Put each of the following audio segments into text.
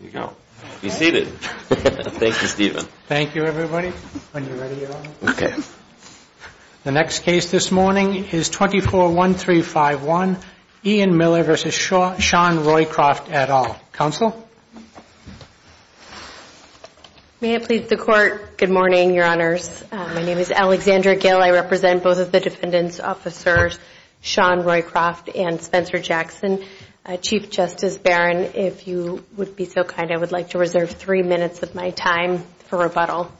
Good morning, your honors. My name is Alexandra Gill. I represent both of the defendants, officers Sean Roycroft and Spencer Jackson. Chief Justice Barron, if you would be so kind as to introduce yourself. I would like to reserve three minutes of my time for rebuttal.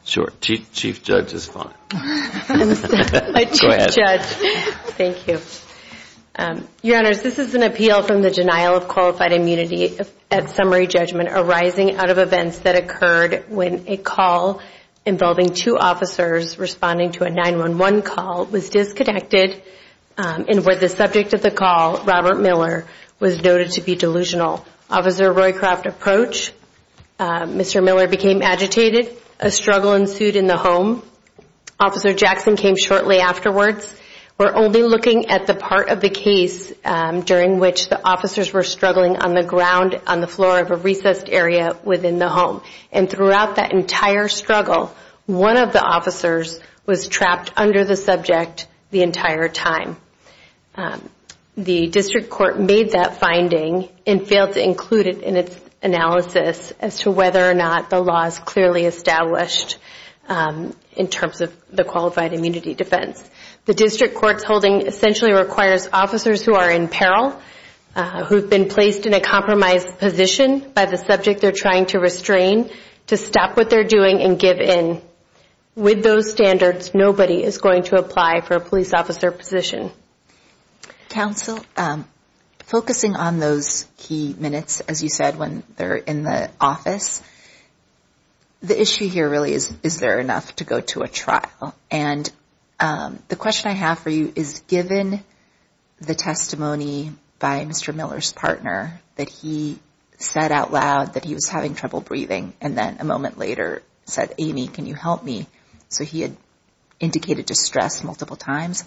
Your honors, this is an appeal from the denial of qualified immunity at summary judgment arising out of events that occurred when a call involving two officers responding to a 911 call was disconnected and where the subject of the call, Robert Miller, was noted to be delusional. Officer Roycroft approached. Mr. Miller became agitated. A struggle ensued in the home. Officer Jackson came shortly afterwards. We're only looking at the part of the case during which the officers were struggling on the ground on the floor of a recessed area within the home. And throughout that entire struggle, one of the officers was trapped under the subject the entire time. The district court made that finding and failed to include it in its analysis as to whether or not the law is clearly established in terms of the qualified immunity defense. The district court's holding essentially requires officers who are in peril, who have been placed in a compromised position by the subject they're trying to restrain to stop what they're doing and give in. With those standards, nobody is going to apply for a police officer position. Counsel, focusing on those key minutes, as you said, when they're in the office, the issue here really is, is there enough to go to a trial? And the question I have for you is, given the testimony by Mr. Miller's partner that he said out loud that he was having trouble breathing and then a moment later said, Amy, can you help me? So he had indicated distress multiple times.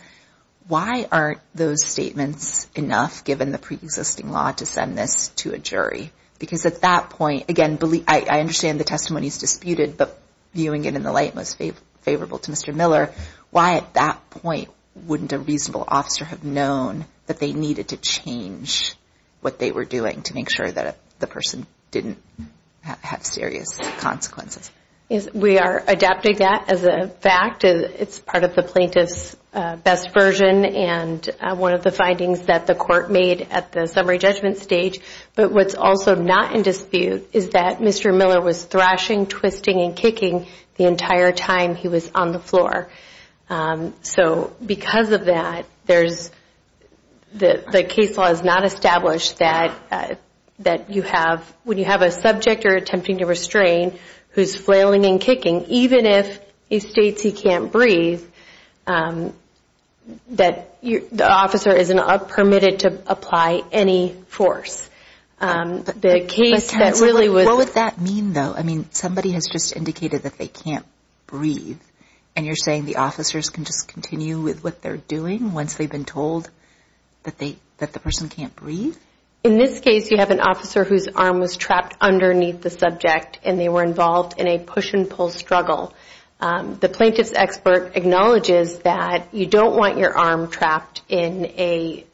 Why aren't those statements enough, given the preexisting law, to send this to a jury? Because at that point, again, I understand the testimony is disputed, but viewing it in the light most favorable to Mr. Miller, why at that point wouldn't a reasonable officer have known that they needed to change what they were doing to make sure that the person didn't have serious consequences? We are adapting that as a fact. It's part of the plaintiff's best version and one of the findings that the court made at the summary judgment stage. But what's also not in dispute is that Mr. Miller was thrashing, twisting, and kicking the entire time he was on the floor. So because of that, the case law has not established that you have, when you have a subject you're attempting to restrain, who's forced to do what they're doing. So the case law has not established that he's flailing and kicking, even if he states he can't breathe, that the officer isn't permitted to apply any force. What would that mean, though? I mean, somebody has just indicated that they can't breathe, and you're saying the officers can just continue with what they're doing once they've been told that the person can't breathe? In this case, you have an officer whose arm was trapped underneath the subject, and they were involved in a push and pull struggle. The plaintiff's expert acknowledges that you don't want your arm trapped in a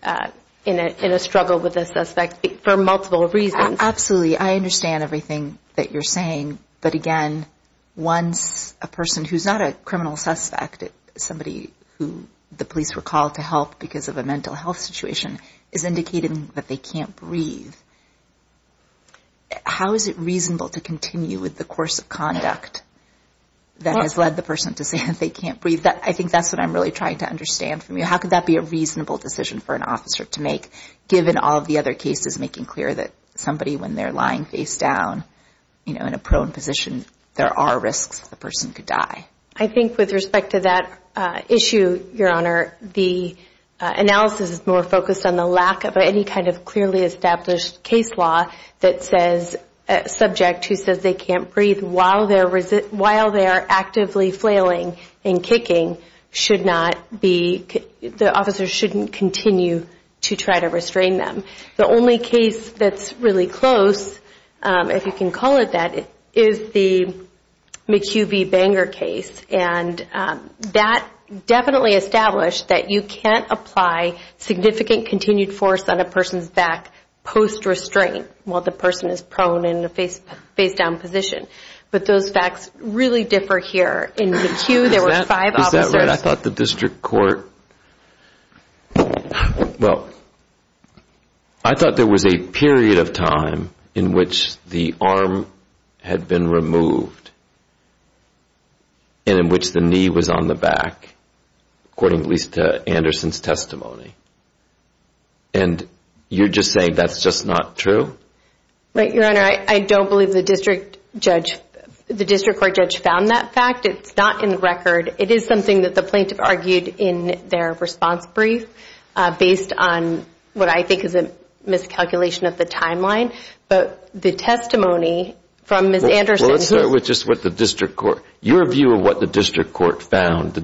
struggle with a suspect for multiple reasons. Absolutely. I understand everything that you're saying. But again, once a person who's not a criminal suspect, somebody who the police were called to help because of a mental health situation, is indicating that they can't breathe. How is it reasonable to continue with the course of conduct that has led the person to say that they can't breathe? I think that's what I'm really trying to understand from you. How could that be a reasonable decision for an officer to make, given all of the other cases making clear that somebody, when they're lying face down, you know, in a prone position, there are risks that the person could die? I think with respect to that issue, Your Honor, the analysis is more focused on the lack of any kind of clear indication that the person can't breathe. There's no clearly established case law that says a subject who says they can't breathe while they're actively flailing and kicking should not be, the officer shouldn't continue to try to restrain them. The only case that's really close, if you can call it that, is the McHugh v. Banger case. And that definitely established that you can't apply significant continued force on a person's back. Post-restraint, while the person is prone in a face-down position. But those facts really differ here. Is that right? I thought there was a period of time in which the arm had been removed and in which the knee was on the back, according at least to Anderson's testimony. And you're just saying that's just not true? Right, Your Honor, I don't believe the district court judge found that fact. It's not in the record. It is something that the plaintiff argued in their response brief based on what I think is a miscalculation of the timeline. But the testimony from Ms. Anderson... Your view of what the district court found.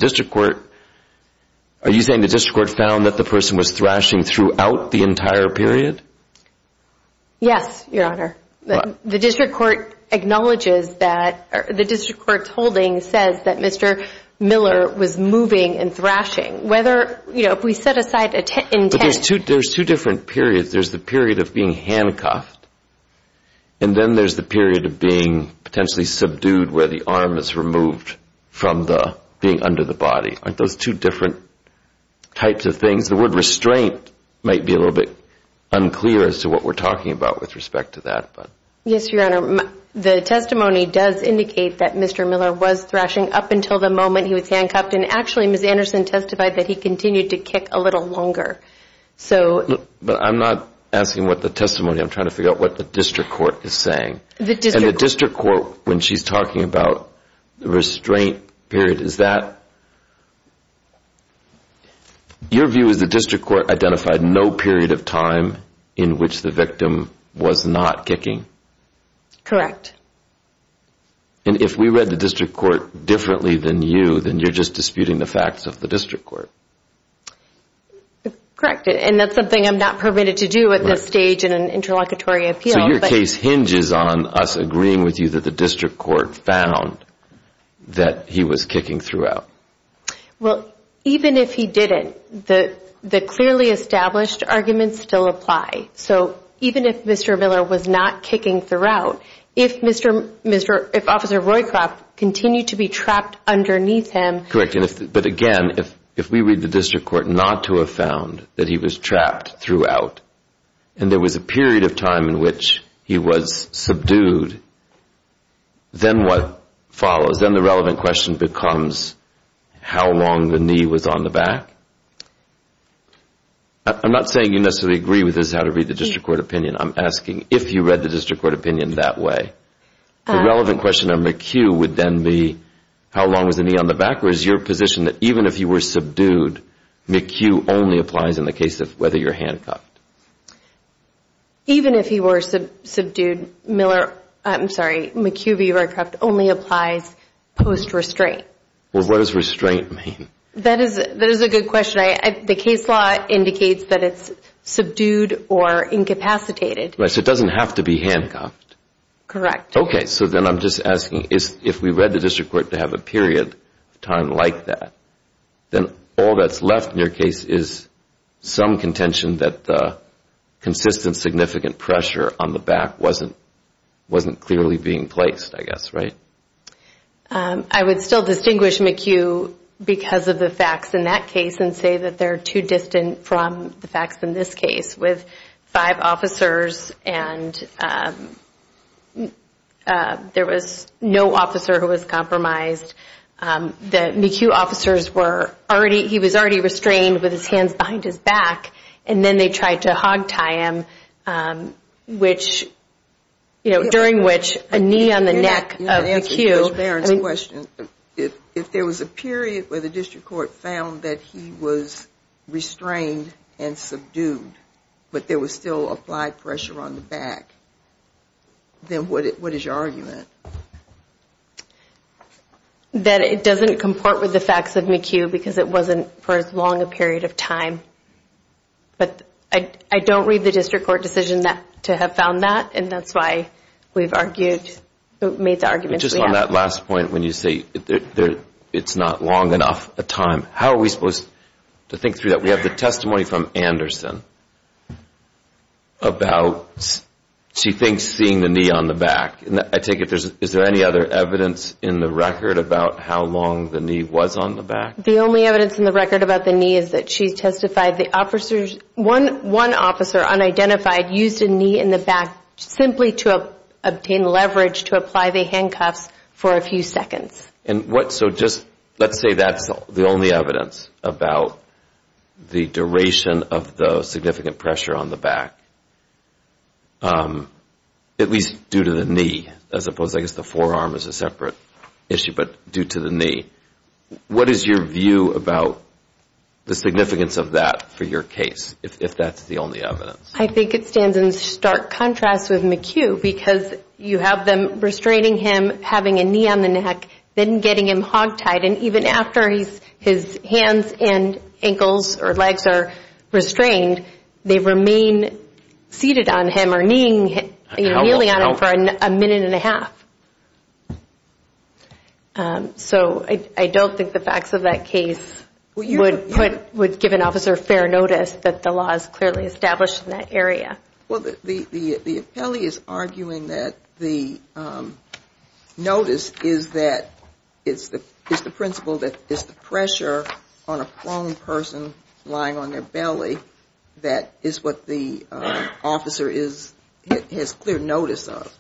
Are you saying the district court found that the person was thrashing throughout the entire period? Yes, Your Honor. The district court's holding says that Mr. Miller was moving and thrashing. If we set aside intent... There's two different periods. There's the period of being handcuffed and then there's the period of being potentially subdued where the arm is removed from being under the body. Aren't those two different types of things? The word restraint might be a little bit unclear as to what we're talking about with respect to that. Yes, Your Honor. The testimony does indicate that Mr. Miller was thrashing up until the moment he was handcuffed and actually Ms. Anderson testified that he continued to kick a little longer. But I'm not asking what the testimony, I'm trying to figure out what the district court is saying. And the district court, when she's talking about the restraint period, is that... Your view is the district court identified no period of time in which the victim was not kicking? Correct. And if we read the district court differently than you, then you're just disputing the facts of the district court. Correct, and that's something I'm not permitted to do at this stage in an interlocutory appeal. So your case hinges on us agreeing with you that the district court found that he was kicking throughout. Well, even if he didn't, the clearly established arguments still apply. So even if Mr. Miller was not kicking throughout, if Officer Roycroft continued to be trapped underneath him... Correct, but again, if we read the district court not to have found that he was trapped throughout and there was a period of time in which he was subdued, then what follows? Then the relevant question becomes how long the knee was on the back? I'm not saying you necessarily agree with this is how to read the district court opinion. I'm asking if you read the district court opinion that way, the relevant question on McHugh would then be how long was the knee on the back, or is your position that even if he were subdued, McHugh only applies in the case of whether you're handcuffed? Even if he were subdued, McHugh v. Roycroft only applies post-restraint. What does restraint mean? The case law indicates that it's subdued or incapacitated. So it doesn't have to be handcuffed? Correct. If we read the district court to have a period of time like that, then all that's left in your case is some contention that the consistent significant pressure on the back wasn't clearly being placed, right? I would still distinguish McHugh because of the facts in that case and say that they're too distant from the facts in this case with five officers and there was no officer who was compromised. The McHugh officers were already, he was already restrained with his hands behind his back and then they tried to hogtie him, which, during which a knee on the neck of McHugh. Judge Barron's question, if there was a period where the district court found that he was restrained and subdued, but there was still applied pressure on the back, then what is your argument? That it doesn't comport with the facts of McHugh because it wasn't for as long a period of time. But I don't read the district court decision to have found that and that's why we've argued, made the arguments we have. Just on that last point, when you say it's not long enough a time, how are we supposed to think through that? We have the testimony from Anderson about, she thinks, seeing the knee on the back. I take it, is there any other evidence in the record about how long the knee was on the back? The only evidence in the record about the knee is that she testified the officers, one officer unidentified used a knee in the back simply to obtain leverage to apply the handcuffs for a few seconds. Let's say that's the only evidence about the duration of the significant pressure on the back, at least due to the knee, as opposed to, I guess the forearm is a separate issue, but due to the knee. What is your view about the significance of that for your case, if that's the only evidence? I think it stands in stark contrast with McHugh because you have them restraining him, having a knee on the neck, then getting him hog tied. And even after his hands and ankles or legs are restrained, they remain seated on him or kneeling on him for a minute and a half. So I don't think the facts of that case would give an officer fair notice that the law is clearly established in that area. The appellee is arguing that the notice is that, it's the principle that it's the pressure on a prone person lying on their belly that is what the officer is, has clear notice of.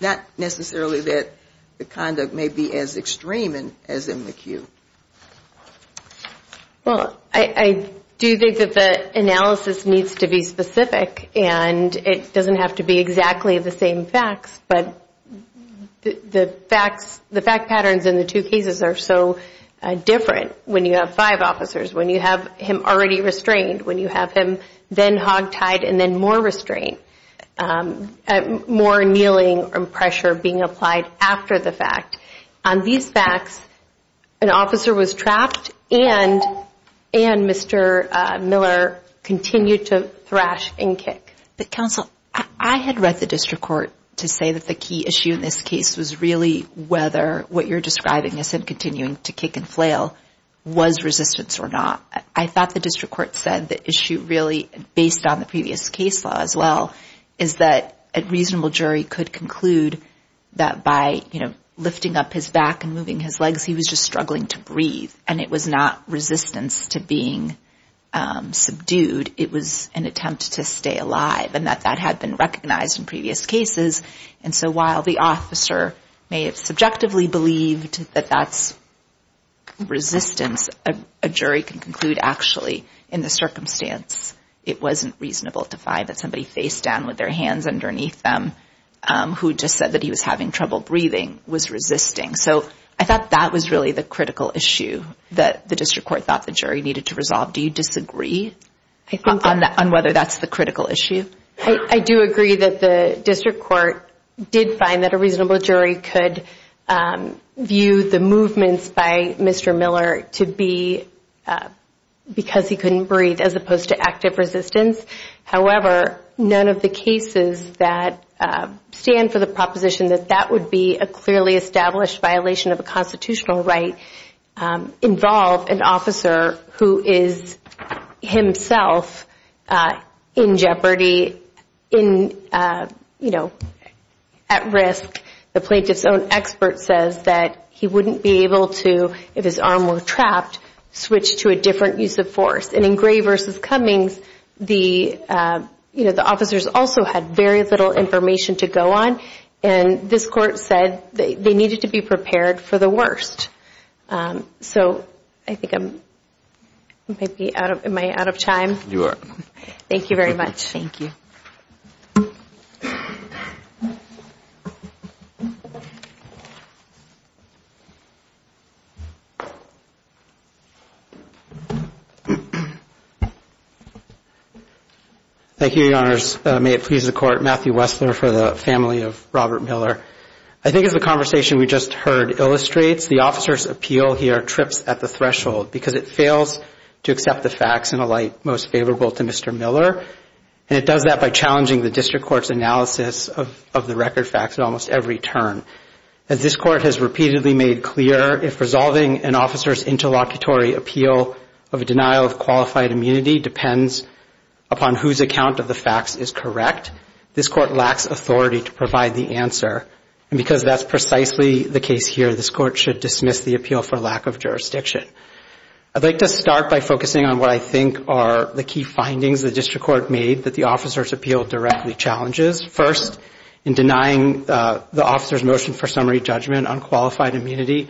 Not necessarily that the conduct may be as extreme as in McHugh. Well, I do think that the analysis needs to be specific, and it doesn't have to be exactly the same facts, but the facts, the fact patterns in the two cases are so different. When you have five officers, when you have him already restrained, when you have him then hog tied and then more restrained, more kneeling and pressure being applied after the fact. On these facts, an officer was trapped and Mr. Miller continued to thrash and kick. Counsel, I had read the district court to say that the key issue in this case was really whether what you're describing as him continuing to kick and flail was resistance or not. I thought the district court said the issue really, based on the previous case law as well, is that a reasonable jury could conclude that by lifting up his back and moving his legs, he was just struggling to breathe, and it was not resistance to being subdued. It was an attempt to stay alive, and that that had been recognized in previous cases. And so while the officer may have subjectively believed that that's resistance, a jury can conclude actually in the circumstance it wasn't reasonable to find that somebody face down with their hands underneath them who just said that he was having trouble breathing was resisting. So I thought that was really the critical issue that the district court thought the jury needed to resolve. Do you disagree on whether that's the critical issue? I do agree that the district court did find that a reasonable jury could view the movements by Mr. Miller to be because he couldn't breathe as opposed to active resistance. However, none of the cases that stand for the proposition that that would be a clearly established violation of a constitutional right involve an officer who is himself in jeopardy, at risk. The plaintiff's own expert says that he wouldn't be able to, if his arm were trapped, switch to a different use of force. And in Gray v. Cummings, the officers also had very little information to go on, and this court said they needed to be prepared for the worst. So I think I'm, am I out of time? You are. Thank you very much. Thank you, Your Honors. May it please the Court. Matthew Wessler for the family of Robert Miller. I think as the conversation we just heard illustrates, the officer's appeal here trips at the threshold because it fails to accept the facts in a light most favorable to Mr. Miller, and it does that by challenging the district court's analysis of the record facts at almost every turn. As this court has repeatedly made clear, if resolving an officer's interlocutory appeal of a denial of qualified immunity depends upon whose account of the facts is correct, this court lacks authority to provide the answer, and because that's precisely the case here, this court should dismiss the appeal for lack of jurisdiction. I'd like to start by focusing on what I think are the key findings the district court made that the officer's appeal directly challenges. First, in denying the officer's motion for summary judgment on qualified immunity,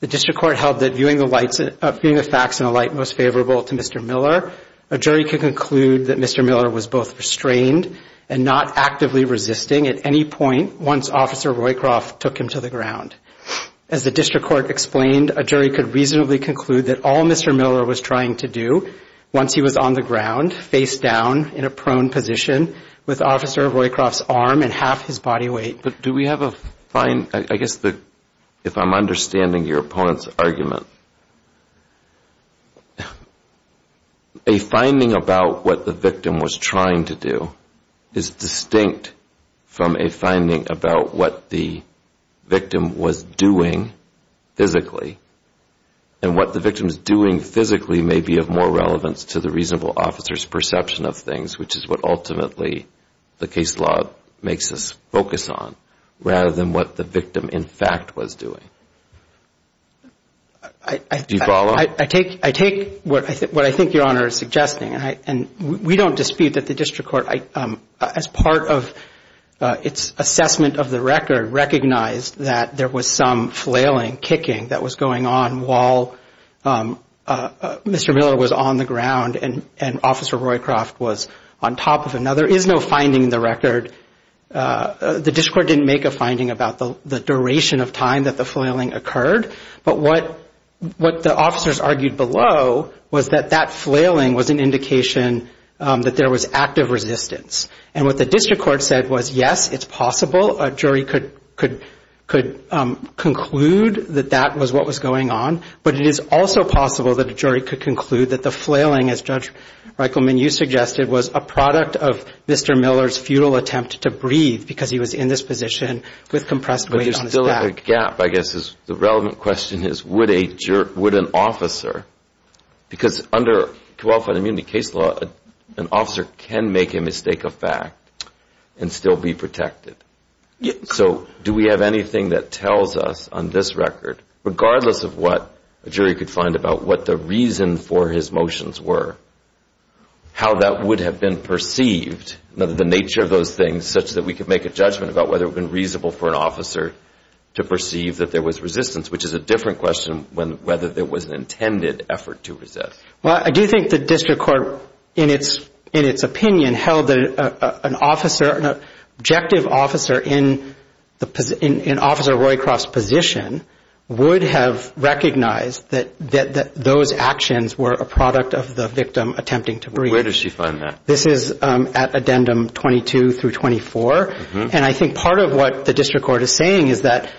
the district court held that viewing the facts in a light most favorable to Mr. Miller, a jury could conclude that Mr. Miller was both restrained and not actively resisting at any point once Officer Roycroft took him to the ground. As the district court explained, a jury could reasonably conclude that all Mr. Miller was trying to do was to resist once he was on the ground, face down in a prone position, with Officer Roycroft's arm and half his body weight. But do we have a fine, I guess if I'm understanding your opponent's argument, a finding about what the victim was trying to do is distinct from a finding about what the victim was doing physically, and what the victim is doing physically may be of more relevance to the reasonable officer's perception of things, which is what ultimately the case law makes us focus on, rather than what the victim in fact was doing. Do you follow? I take what I think Your Honor is suggesting, and we don't dispute that the district court, as part of its assessment of the record, recognized that there was some flailing, kicking that was going on while Mr. Miller was on the ground and Officer Roycroft was on top of him. Now, there is no finding in the record, the district court didn't make a finding about the duration of time that the flailing occurred, but what the officers argued below was that that flailing was an indication that there was active resistance. And what the district court said was, yes, it's possible a jury could conclude that that was what was going on, but it is also possible that a jury could conclude that the flailing, as Judge Reichelman, you suggested, was a product of Mr. Miller's futile attempt to breathe because he was in this position with compressed weight on his back. But there's still a gap, I guess the relevant question is, would an officer, because under qualified immunity case law, an officer can make a mistake of fact and still be protected. So do we have anything that tells us on this record, regardless of what a jury could find about what the reason for his motions were, how that would have been perceived, the nature of those things, such that we could make a judgment about whether it would have been reasonable for an officer to perceive that there was resistance, which is a different question than whether there was an intended effort to resist. Well, I do think the district court, in its opinion, held that an officer, an objective officer in Officer Roycroft's position, would have recognized that those actions were a product of the victim attempting to breathe. Where does she find that? This is at addendum 22 through 24. And I think part of what the district court is saying is that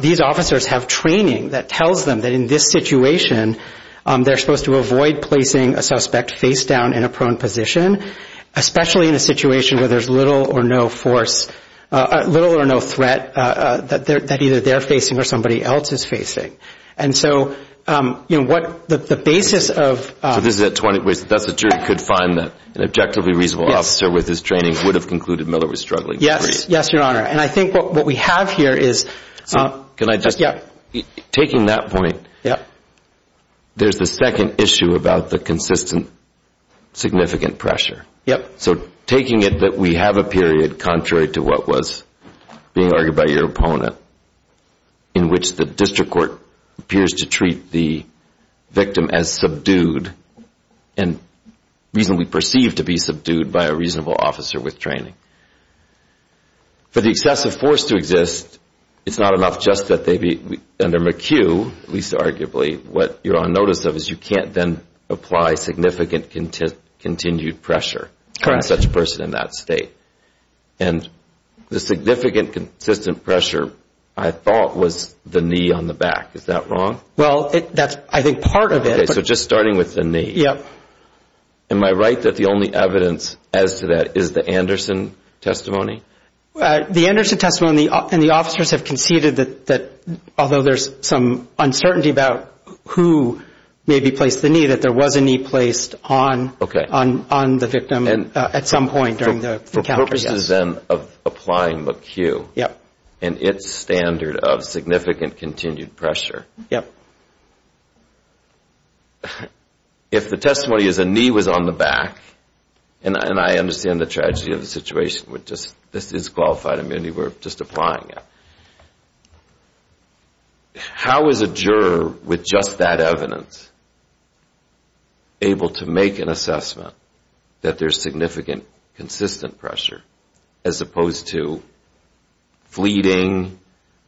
these officers have training that tells them that in this situation, they're supposed to avoid placing a suspect face down in a prone position, especially in a situation where there's little or no force, little or no threat that either they're facing or somebody else is facing. And so, you know, what the basis of... So that's a jury could find that an objectively reasonable officer with his training would have concluded Miller was struggling to breathe. Yes, Your Honor. And I think what we have here is... Taking that point, there's the second issue about the consistent significant pressure. So taking it that we have a period, contrary to what was being argued by your opponent, in which the district court appears to treat the victim as subdued and reasonably perceived to be subdued by a reasonable officer with training. For the excessive force to exist, it's not enough just that they be... Under McHugh, at least arguably, what you're on notice of is you can't then apply significant continued pressure on such a person in that state. And the significant consistent pressure, I thought, was the knee on the back. Is that wrong? Well, that's, I think, part of it. Okay. So just starting with the knee. Yep. Am I right that the only evidence as to that is the Anderson testimony? The Anderson testimony and the officers have conceded that although there's some uncertainty about who may be placed the knee, that there was a knee placed on the victim at some point during the encounter. For purposes then of applying McHugh and its standard of significant continued pressure. Yep. If the testimony is a knee was on the back, and I understand the tragedy of the situation. This is qualified immunity. We're just applying it. How is a juror with just that evidence able to make an assessment that there's significant consistent pressure, as opposed to fleeting,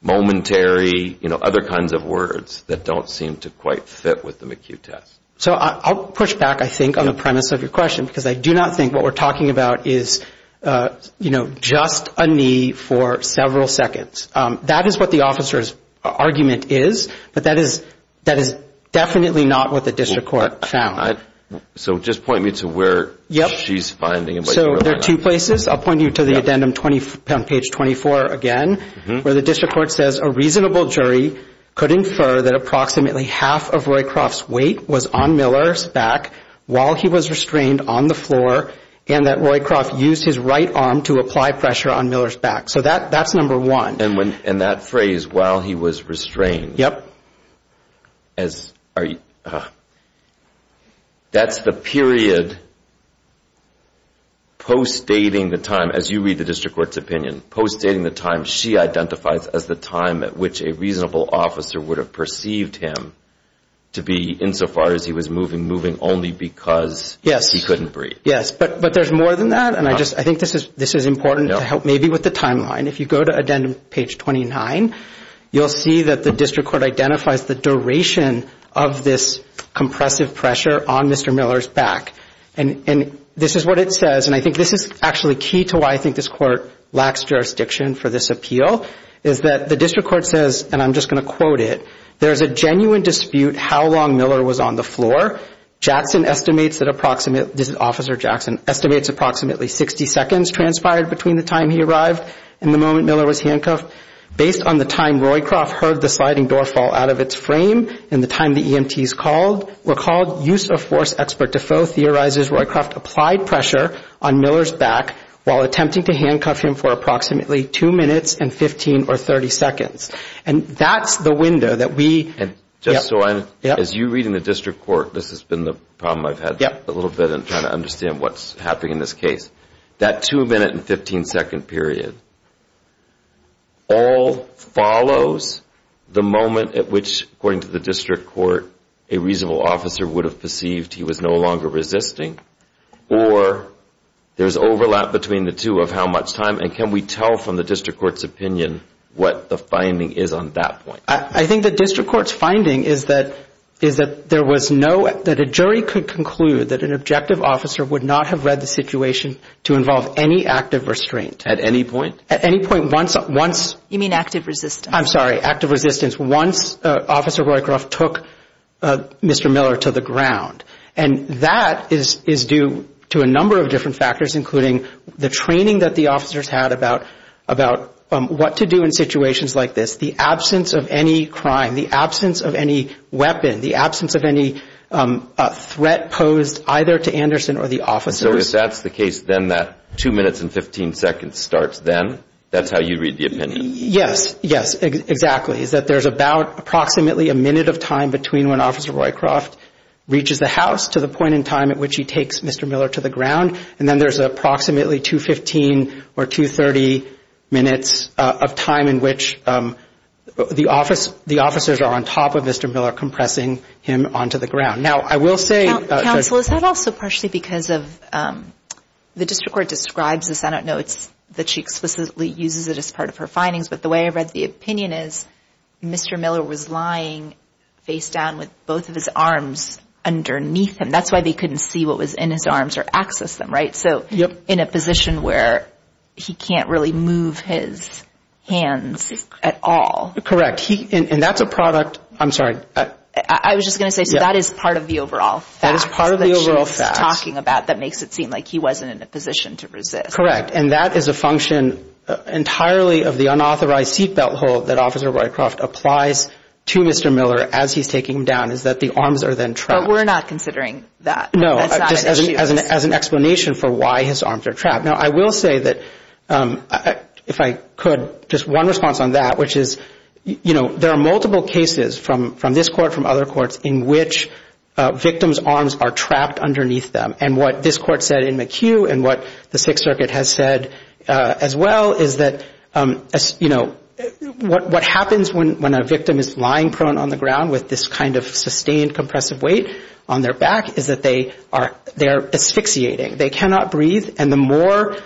momentary, other kinds of words that don't seem to quite fit with the McHugh test? So I'll push back, I think, on the premise of your question, because I do not think what we're talking about is just a knee for several seconds. That is what the officer's argument is, but that is definitely not what the district court found. So just point me to where she's finding it. So there are two places. I'll point you to the addendum on page 24 again, where the district court says a reasonable jury could infer that approximately half of Roycroft's weight was on Miller's back while he was restrained on the floor, and that Roycroft used his right arm to apply pressure on Miller's back. So that's number one. And that phrase, while he was restrained, that's the period post-dating the time, as you read the district court's opinion, post-dating the time she identifies as the time at which a reasonable officer would have perceived him to be insofar as he was moving, moving only because he couldn't breathe. Yes, but there's more than that, and I think this is important to help maybe with the timeline. If you go to addendum page 29, you'll see that the district court identifies the duration of this compressive pressure on Mr. Miller's back. And this is what it says, and I think this is actually key to why I think this court lacks jurisdiction for this appeal, is that the district court says, and I'm just going to quote it, there's a genuine dispute how long Miller was on the floor. Jackson estimates that approximately, this is Officer Jackson, estimates approximately 60 seconds transpired between the time he arrived and the time he was on the floor. And he says, at the moment Miller was handcuffed, based on the time Roycroft heard the sliding door fall out of its frame and the time the EMTs were called, use of force expert to foe theorizes Roycroft applied pressure on Miller's back while attempting to handcuff him for approximately 2 minutes and 15 or 30 seconds. And that's the window that we, yep. As you read in the district court, this has been the problem I've had a little bit in trying to understand what's happening in this case. That 2 minute and 15 second period all follows the moment at which, according to the district court, a reasonable officer would have perceived he was no longer resisting, or there's overlap between the two of how much time. And can we tell from the district court's opinion what the finding is on that point? I think the district court's finding is that there was no, that a jury could conclude that an objective officer would not have read the situation, to involve any active restraint. At any point? At any point, once. You mean active resistance. I'm sorry, active resistance. Active resistance is once Officer Roycroft took Mr. Miller to the ground. And that is due to a number of different factors, including the training that the officers had about what to do in situations like this. The absence of any crime, the absence of any weapon, the absence of any threat posed either to Anderson or the officers. So if that's the case, then that 2 minutes and 15 seconds starts then? That's how you read the opinion? Yes, yes, exactly. It's that there's about approximately a minute of time between when Officer Roycroft reaches the house to the point in time at which he takes Mr. Miller to the ground, and then there's approximately 2 15 or 2 30 minutes of time in which the officers are on top of Mr. Miller compressing him onto the ground. Counsel, is that also partially because of, the district court describes this, I don't know that she explicitly uses it as part of her findings, but the way I read the opinion is Mr. Miller was lying face down with both of his arms underneath him. That's why they couldn't see what was in his arms or access them, right? So in a position where he can't really move his hands at all. Correct, and that's a product, I'm sorry. I was just going to say that is part of the overall facts that she was talking about that makes it seem like he wasn't in a position to resist. Correct, and that is a function entirely of the unauthorized seat belt hold that Officer Roycroft applies to Mr. Miller as he's taking him down is that the arms are then trapped. But we're not considering that. No, as an explanation for why his arms are trapped. Now, I will say that if I could, just one response on that, which is, you know, there are multiple cases from this court, from other courts, in which victims' arms are trapped underneath them. And what this court said in McHugh and what the Sixth Circuit has said as well is that, you know, what happens when a victim is lying prone on the ground with this kind of sustained compressive weight on their back is that they are trapped. They are asphyxiating. They cannot breathe, and the more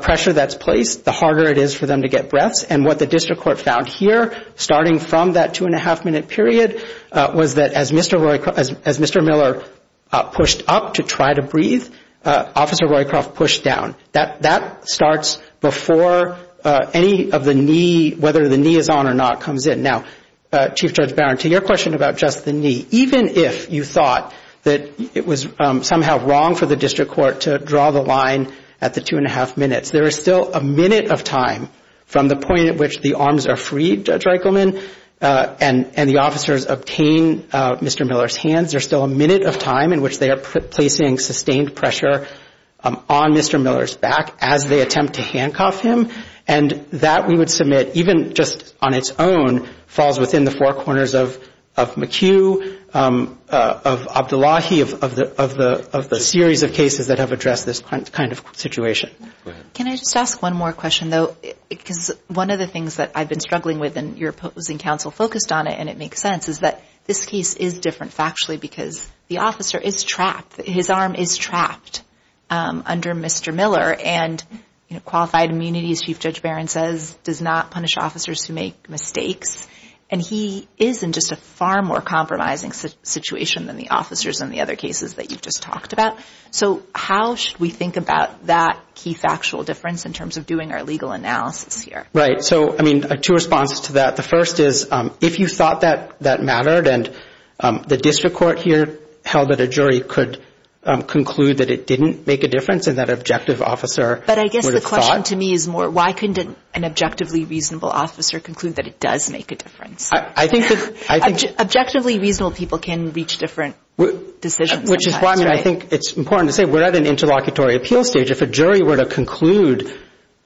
pressure that's placed, the harder it is for them to get breaths. And what the district court found here, starting from that two-and-a-half-minute period, was that as Mr. Miller pushed up to try to breathe, Officer Roycroft pushed down. That starts before any of the knee, whether the knee is on or not, comes in. Now, Chief Judge Barron, to your question about just the knee, even if you thought that it was somehow wrong for the district court to draw the line at the two-and-a-half minutes, there is still a minute of time from the point at which the arms are freed, Judge Reichelman, and the officers obtain Mr. Miller's hands. There's still a minute of time in which they are placing sustained pressure on Mr. Miller's back as they attempt to handcuff him. And that, we would submit, even just on its own, falls within the four corners of McHugh, of Abdullahi, of the series of cases that have addressed this kind of situation. Go ahead. Can I just ask one more question, though? Because one of the things that I've been struggling with, and your opposing counsel focused on it and it makes sense, is that this case is different factually, because the officer is trapped. His arm is trapped under Mr. Miller, and, you know, qualified immunities, he's not going to be able to breathe. And as Chief Judge Barron says, does not punish officers who make mistakes. And he is in just a far more compromising situation than the officers in the other cases that you've just talked about. So how should we think about that key factual difference in terms of doing our legal analysis here? Right. So, I mean, two responses to that. The first is, if you thought that mattered and the district court here held that a jury could conclude that it didn't make a difference and that an objective officer would have thought. The second to me is more, why couldn't an objectively reasonable officer conclude that it does make a difference? Objectively reasonable people can reach different decisions. Which is why I think it's important to say we're at an interlocutory appeal stage. If a jury were to conclude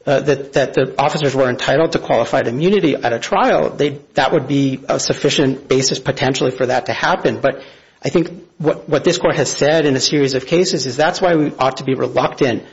that the officers were entitled to qualified immunity at a trial, that would be a sufficient basis, potentially, for that to happen. But I think what this court has said in a series of cases is that's why we ought to be reluctant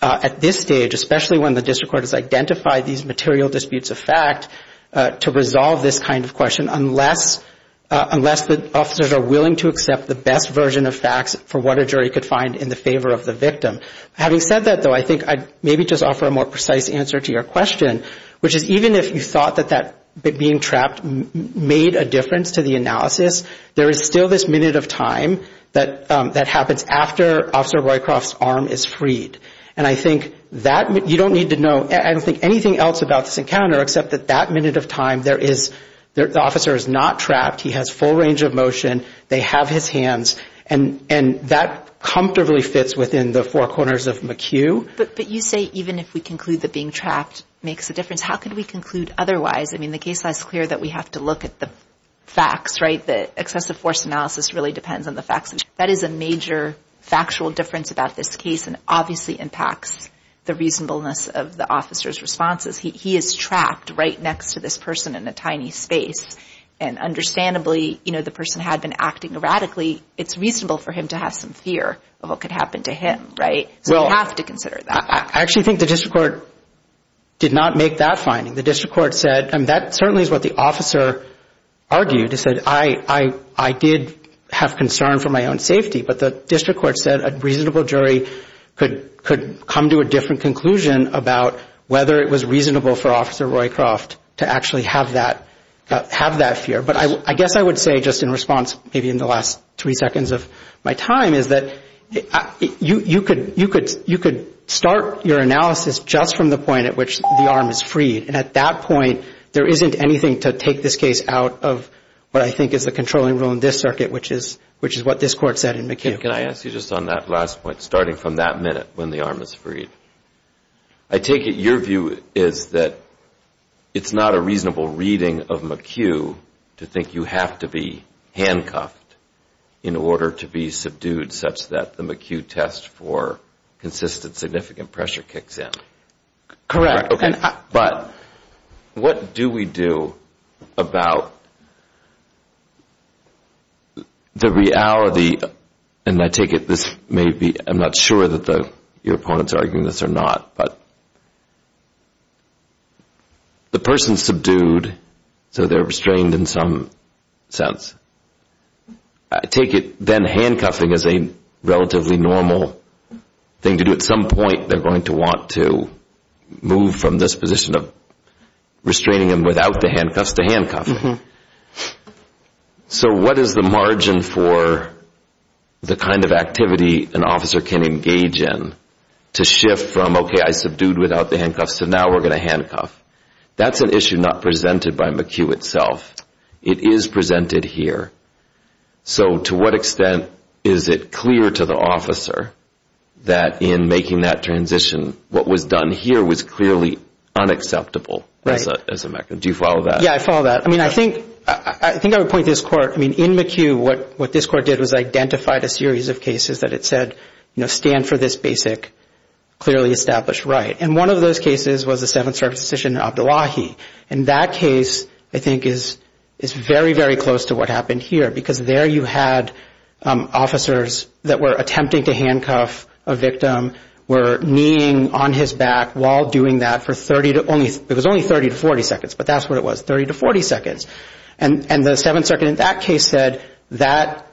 at this stage, particularly when the district court has identified these material disputes of fact, to resolve this kind of question, unless the officers are willing to accept the best version of facts for what a jury could find in the favor of the victim. Having said that, though, I think I'd maybe just offer a more precise answer to your question, which is even if you thought that being trapped made a difference to the analysis, there is still this minute of time that happens after Officer Boycroft's arm is freed. And I think that, you don't need to know, I don't think anything else about this encounter, except that that minute of time there is, the officer is not trapped, he has full range of motion, they have his hands, and that comfortably fits within the four corners of McHugh. But you say even if we conclude that being trapped makes a difference, how could we conclude otherwise? I mean, the case law is clear that we have to look at the facts, right? The excessive force analysis really depends on the facts. That is a major factual difference about this case and obviously impacts the reasonableness of the officer's responses. He is trapped right next to this person in a tiny space. And understandably, you know, the person had been acting erratically. It's reasonable for him to have some fear of what could happen to him, right? So you have to consider that. I actually think the district court did not make that finding. The district court said, and that certainly is what the officer argued, he said, I did have concern for my own safety, but the district court said a reasonable jury could come to a different conclusion about whether it was reasonable for Officer Boycroft to actually have that fear. But I guess I would say just in response, maybe in the last three seconds of my time, is that you could start your analysis just from the point at which the arm is freed. And at that point, there isn't anything to take this case out of what I think is the controlling rule in this circuit, which is what this court said in McHugh. Can I ask you just on that last point, starting from that minute when the arm is freed, I take it your view is that it's not a reasonable reading of McHugh to think you have to be handcuffed in order to be subdued such that the McHugh test for consistent significant pressure kicks in. Correct. But what do we do about the reality, and I take it this may be, and I'm not sure that your opponents are arguing this or not, but the person's subdued, so they're restrained in some sense. I take it then handcuffing is a relatively normal thing to do. At some point, they're going to want to move from this position of restraining them without the handcuffs to handcuffing. So what is the margin for the kind of activity an officer can engage in to shift from, okay, I subdued without the handcuffs, so now we're going to handcuff. That's an issue not presented by McHugh itself. It is presented here. So to what extent is it clear to the officer that in making that transition, what was done here was clearly unacceptable as a mechanism? Do you follow that? Yeah, I follow that. I think I would point to this court. In McHugh, what this court did was identify a series of cases that it said stand for this basic clearly established right. And one of those cases was the Seventh Circuit decision in Abdullahi. And that case, I think, is very, very close to what happened here, because there you had officers that were attempting to handcuff a victim, were kneeing on his back while doing that for only 30 to 40 seconds. But that's what it was, 30 to 40 seconds. And the Seventh Circuit in that case said that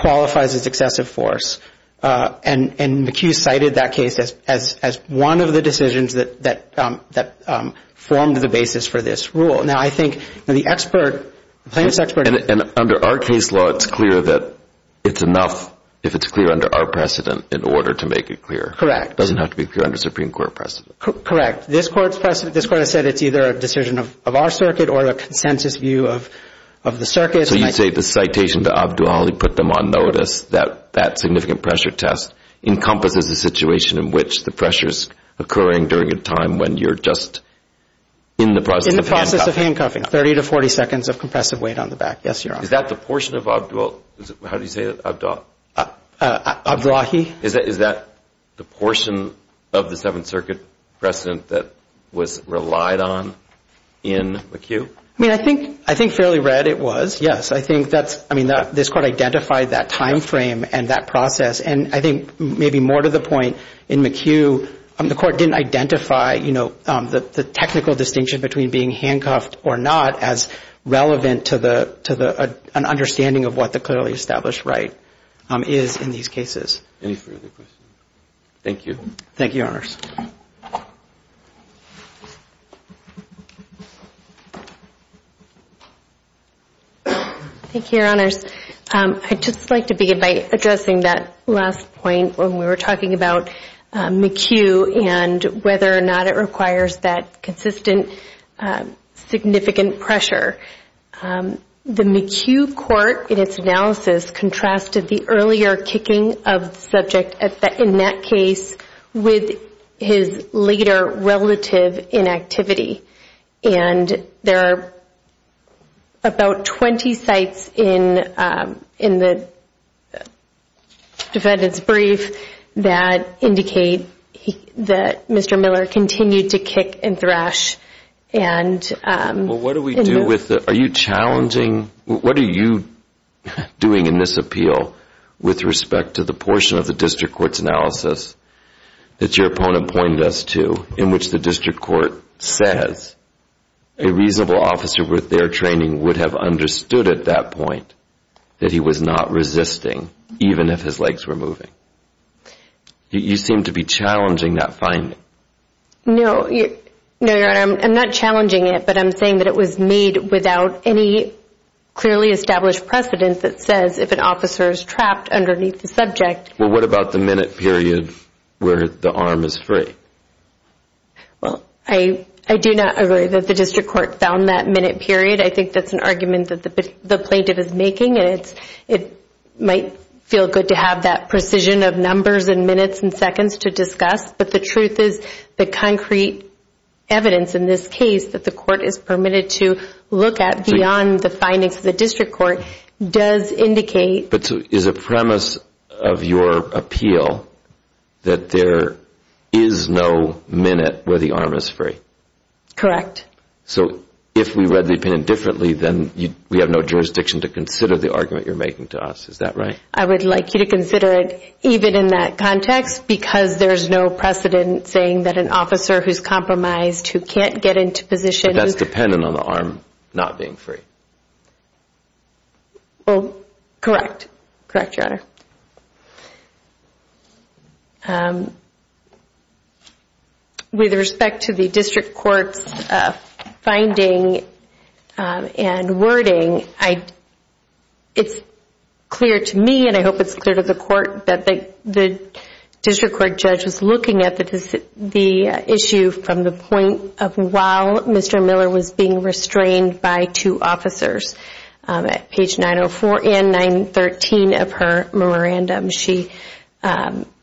qualifies as excessive force. And McHugh cited that case as one of the decisions that formed the basis for this rule. Now, I think the expert, the plaintiff's expert. And under our case law, it's clear that it's enough if it's clear under our precedent in order to make it clear. Correct. It doesn't have to be clear under Supreme Court precedent. Correct. This court has said it's either a decision of our circuit or a consensus view of the circuit. So you'd say the citation to Abdullahi put them on notice that that significant pressure test encompasses a situation in which the pressure's occurring during a time when you're just in the process of handcuffing. 30 to 40 seconds of compressive weight on the back. Is that the portion of Abdullahi? Is that the portion of the Seventh Circuit precedent that was relied on in McHugh? I mean, I think fairly red it was, yes. I mean, this court identified that time frame and that process. And I think maybe more to the point, in McHugh, the court didn't identify, you know, the technical distinction between being handcuffed or not as relevant to the understanding of what the clearly established right is in these cases. Any further questions? Thank you. Thank you, Your Honors. Thank you, Your Honors. I'd just like to begin by addressing that last point when we were talking about McHugh and whether or not it requires that consistent significant pressure. The McHugh court in its analysis contrasted the earlier kicking of the subject in that case with his later relative inactivity. And there are about 20 sites in the defendant's brief that indicate that Mr. Miller continued to kick and thrash. Well, what do we do with the, are you challenging, what are you doing in this appeal with respect to the portion of the district court's analysis that your opponent pointed us to in which the district court says a reasonable officer with their training would have understood at that point that he was not resisting even if his legs were moving? You seem to be challenging that finding. No, Your Honor, I'm not challenging it, but I'm saying that it was made without any clearly established precedent that says if an officer is trapped underneath the subject. Well, what about the minute period where the arm is free? Well, I do not agree that the district court found that minute period. I think that's an argument that the plaintiff is making, and it might feel good to have that precision of numbers and minutes and seconds to discuss, but the truth is the concrete evidence in this case that the court is permitted to look at beyond the findings of the district court does indicate But is the premise of your appeal that there is no minute where the arm is free? Correct. So if we read the opinion differently, then we have no jurisdiction to consider the argument you're making to us, is that right? I would like you to consider it even in that context because there's no precedent saying that an officer who's compromised who can't get into position. But that's dependent on the arm not being free. Well, correct. Correct, Your Honor. With respect to the district court's finding and wording, it's clear to me and I hope it's clear to the court that the district court judge was looking at the issue from the point of while Mr. Miller was being restrained by two officers. At page 904 and 913 of her memorandum, she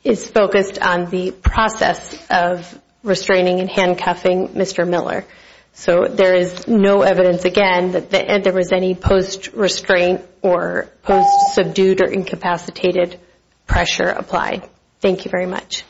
is focused on the process of restraining and handcuffing Mr. Miller. So there is no evidence again that there was any post-restraint or post-subdued or incapacitated pressure applied. Thank you very much.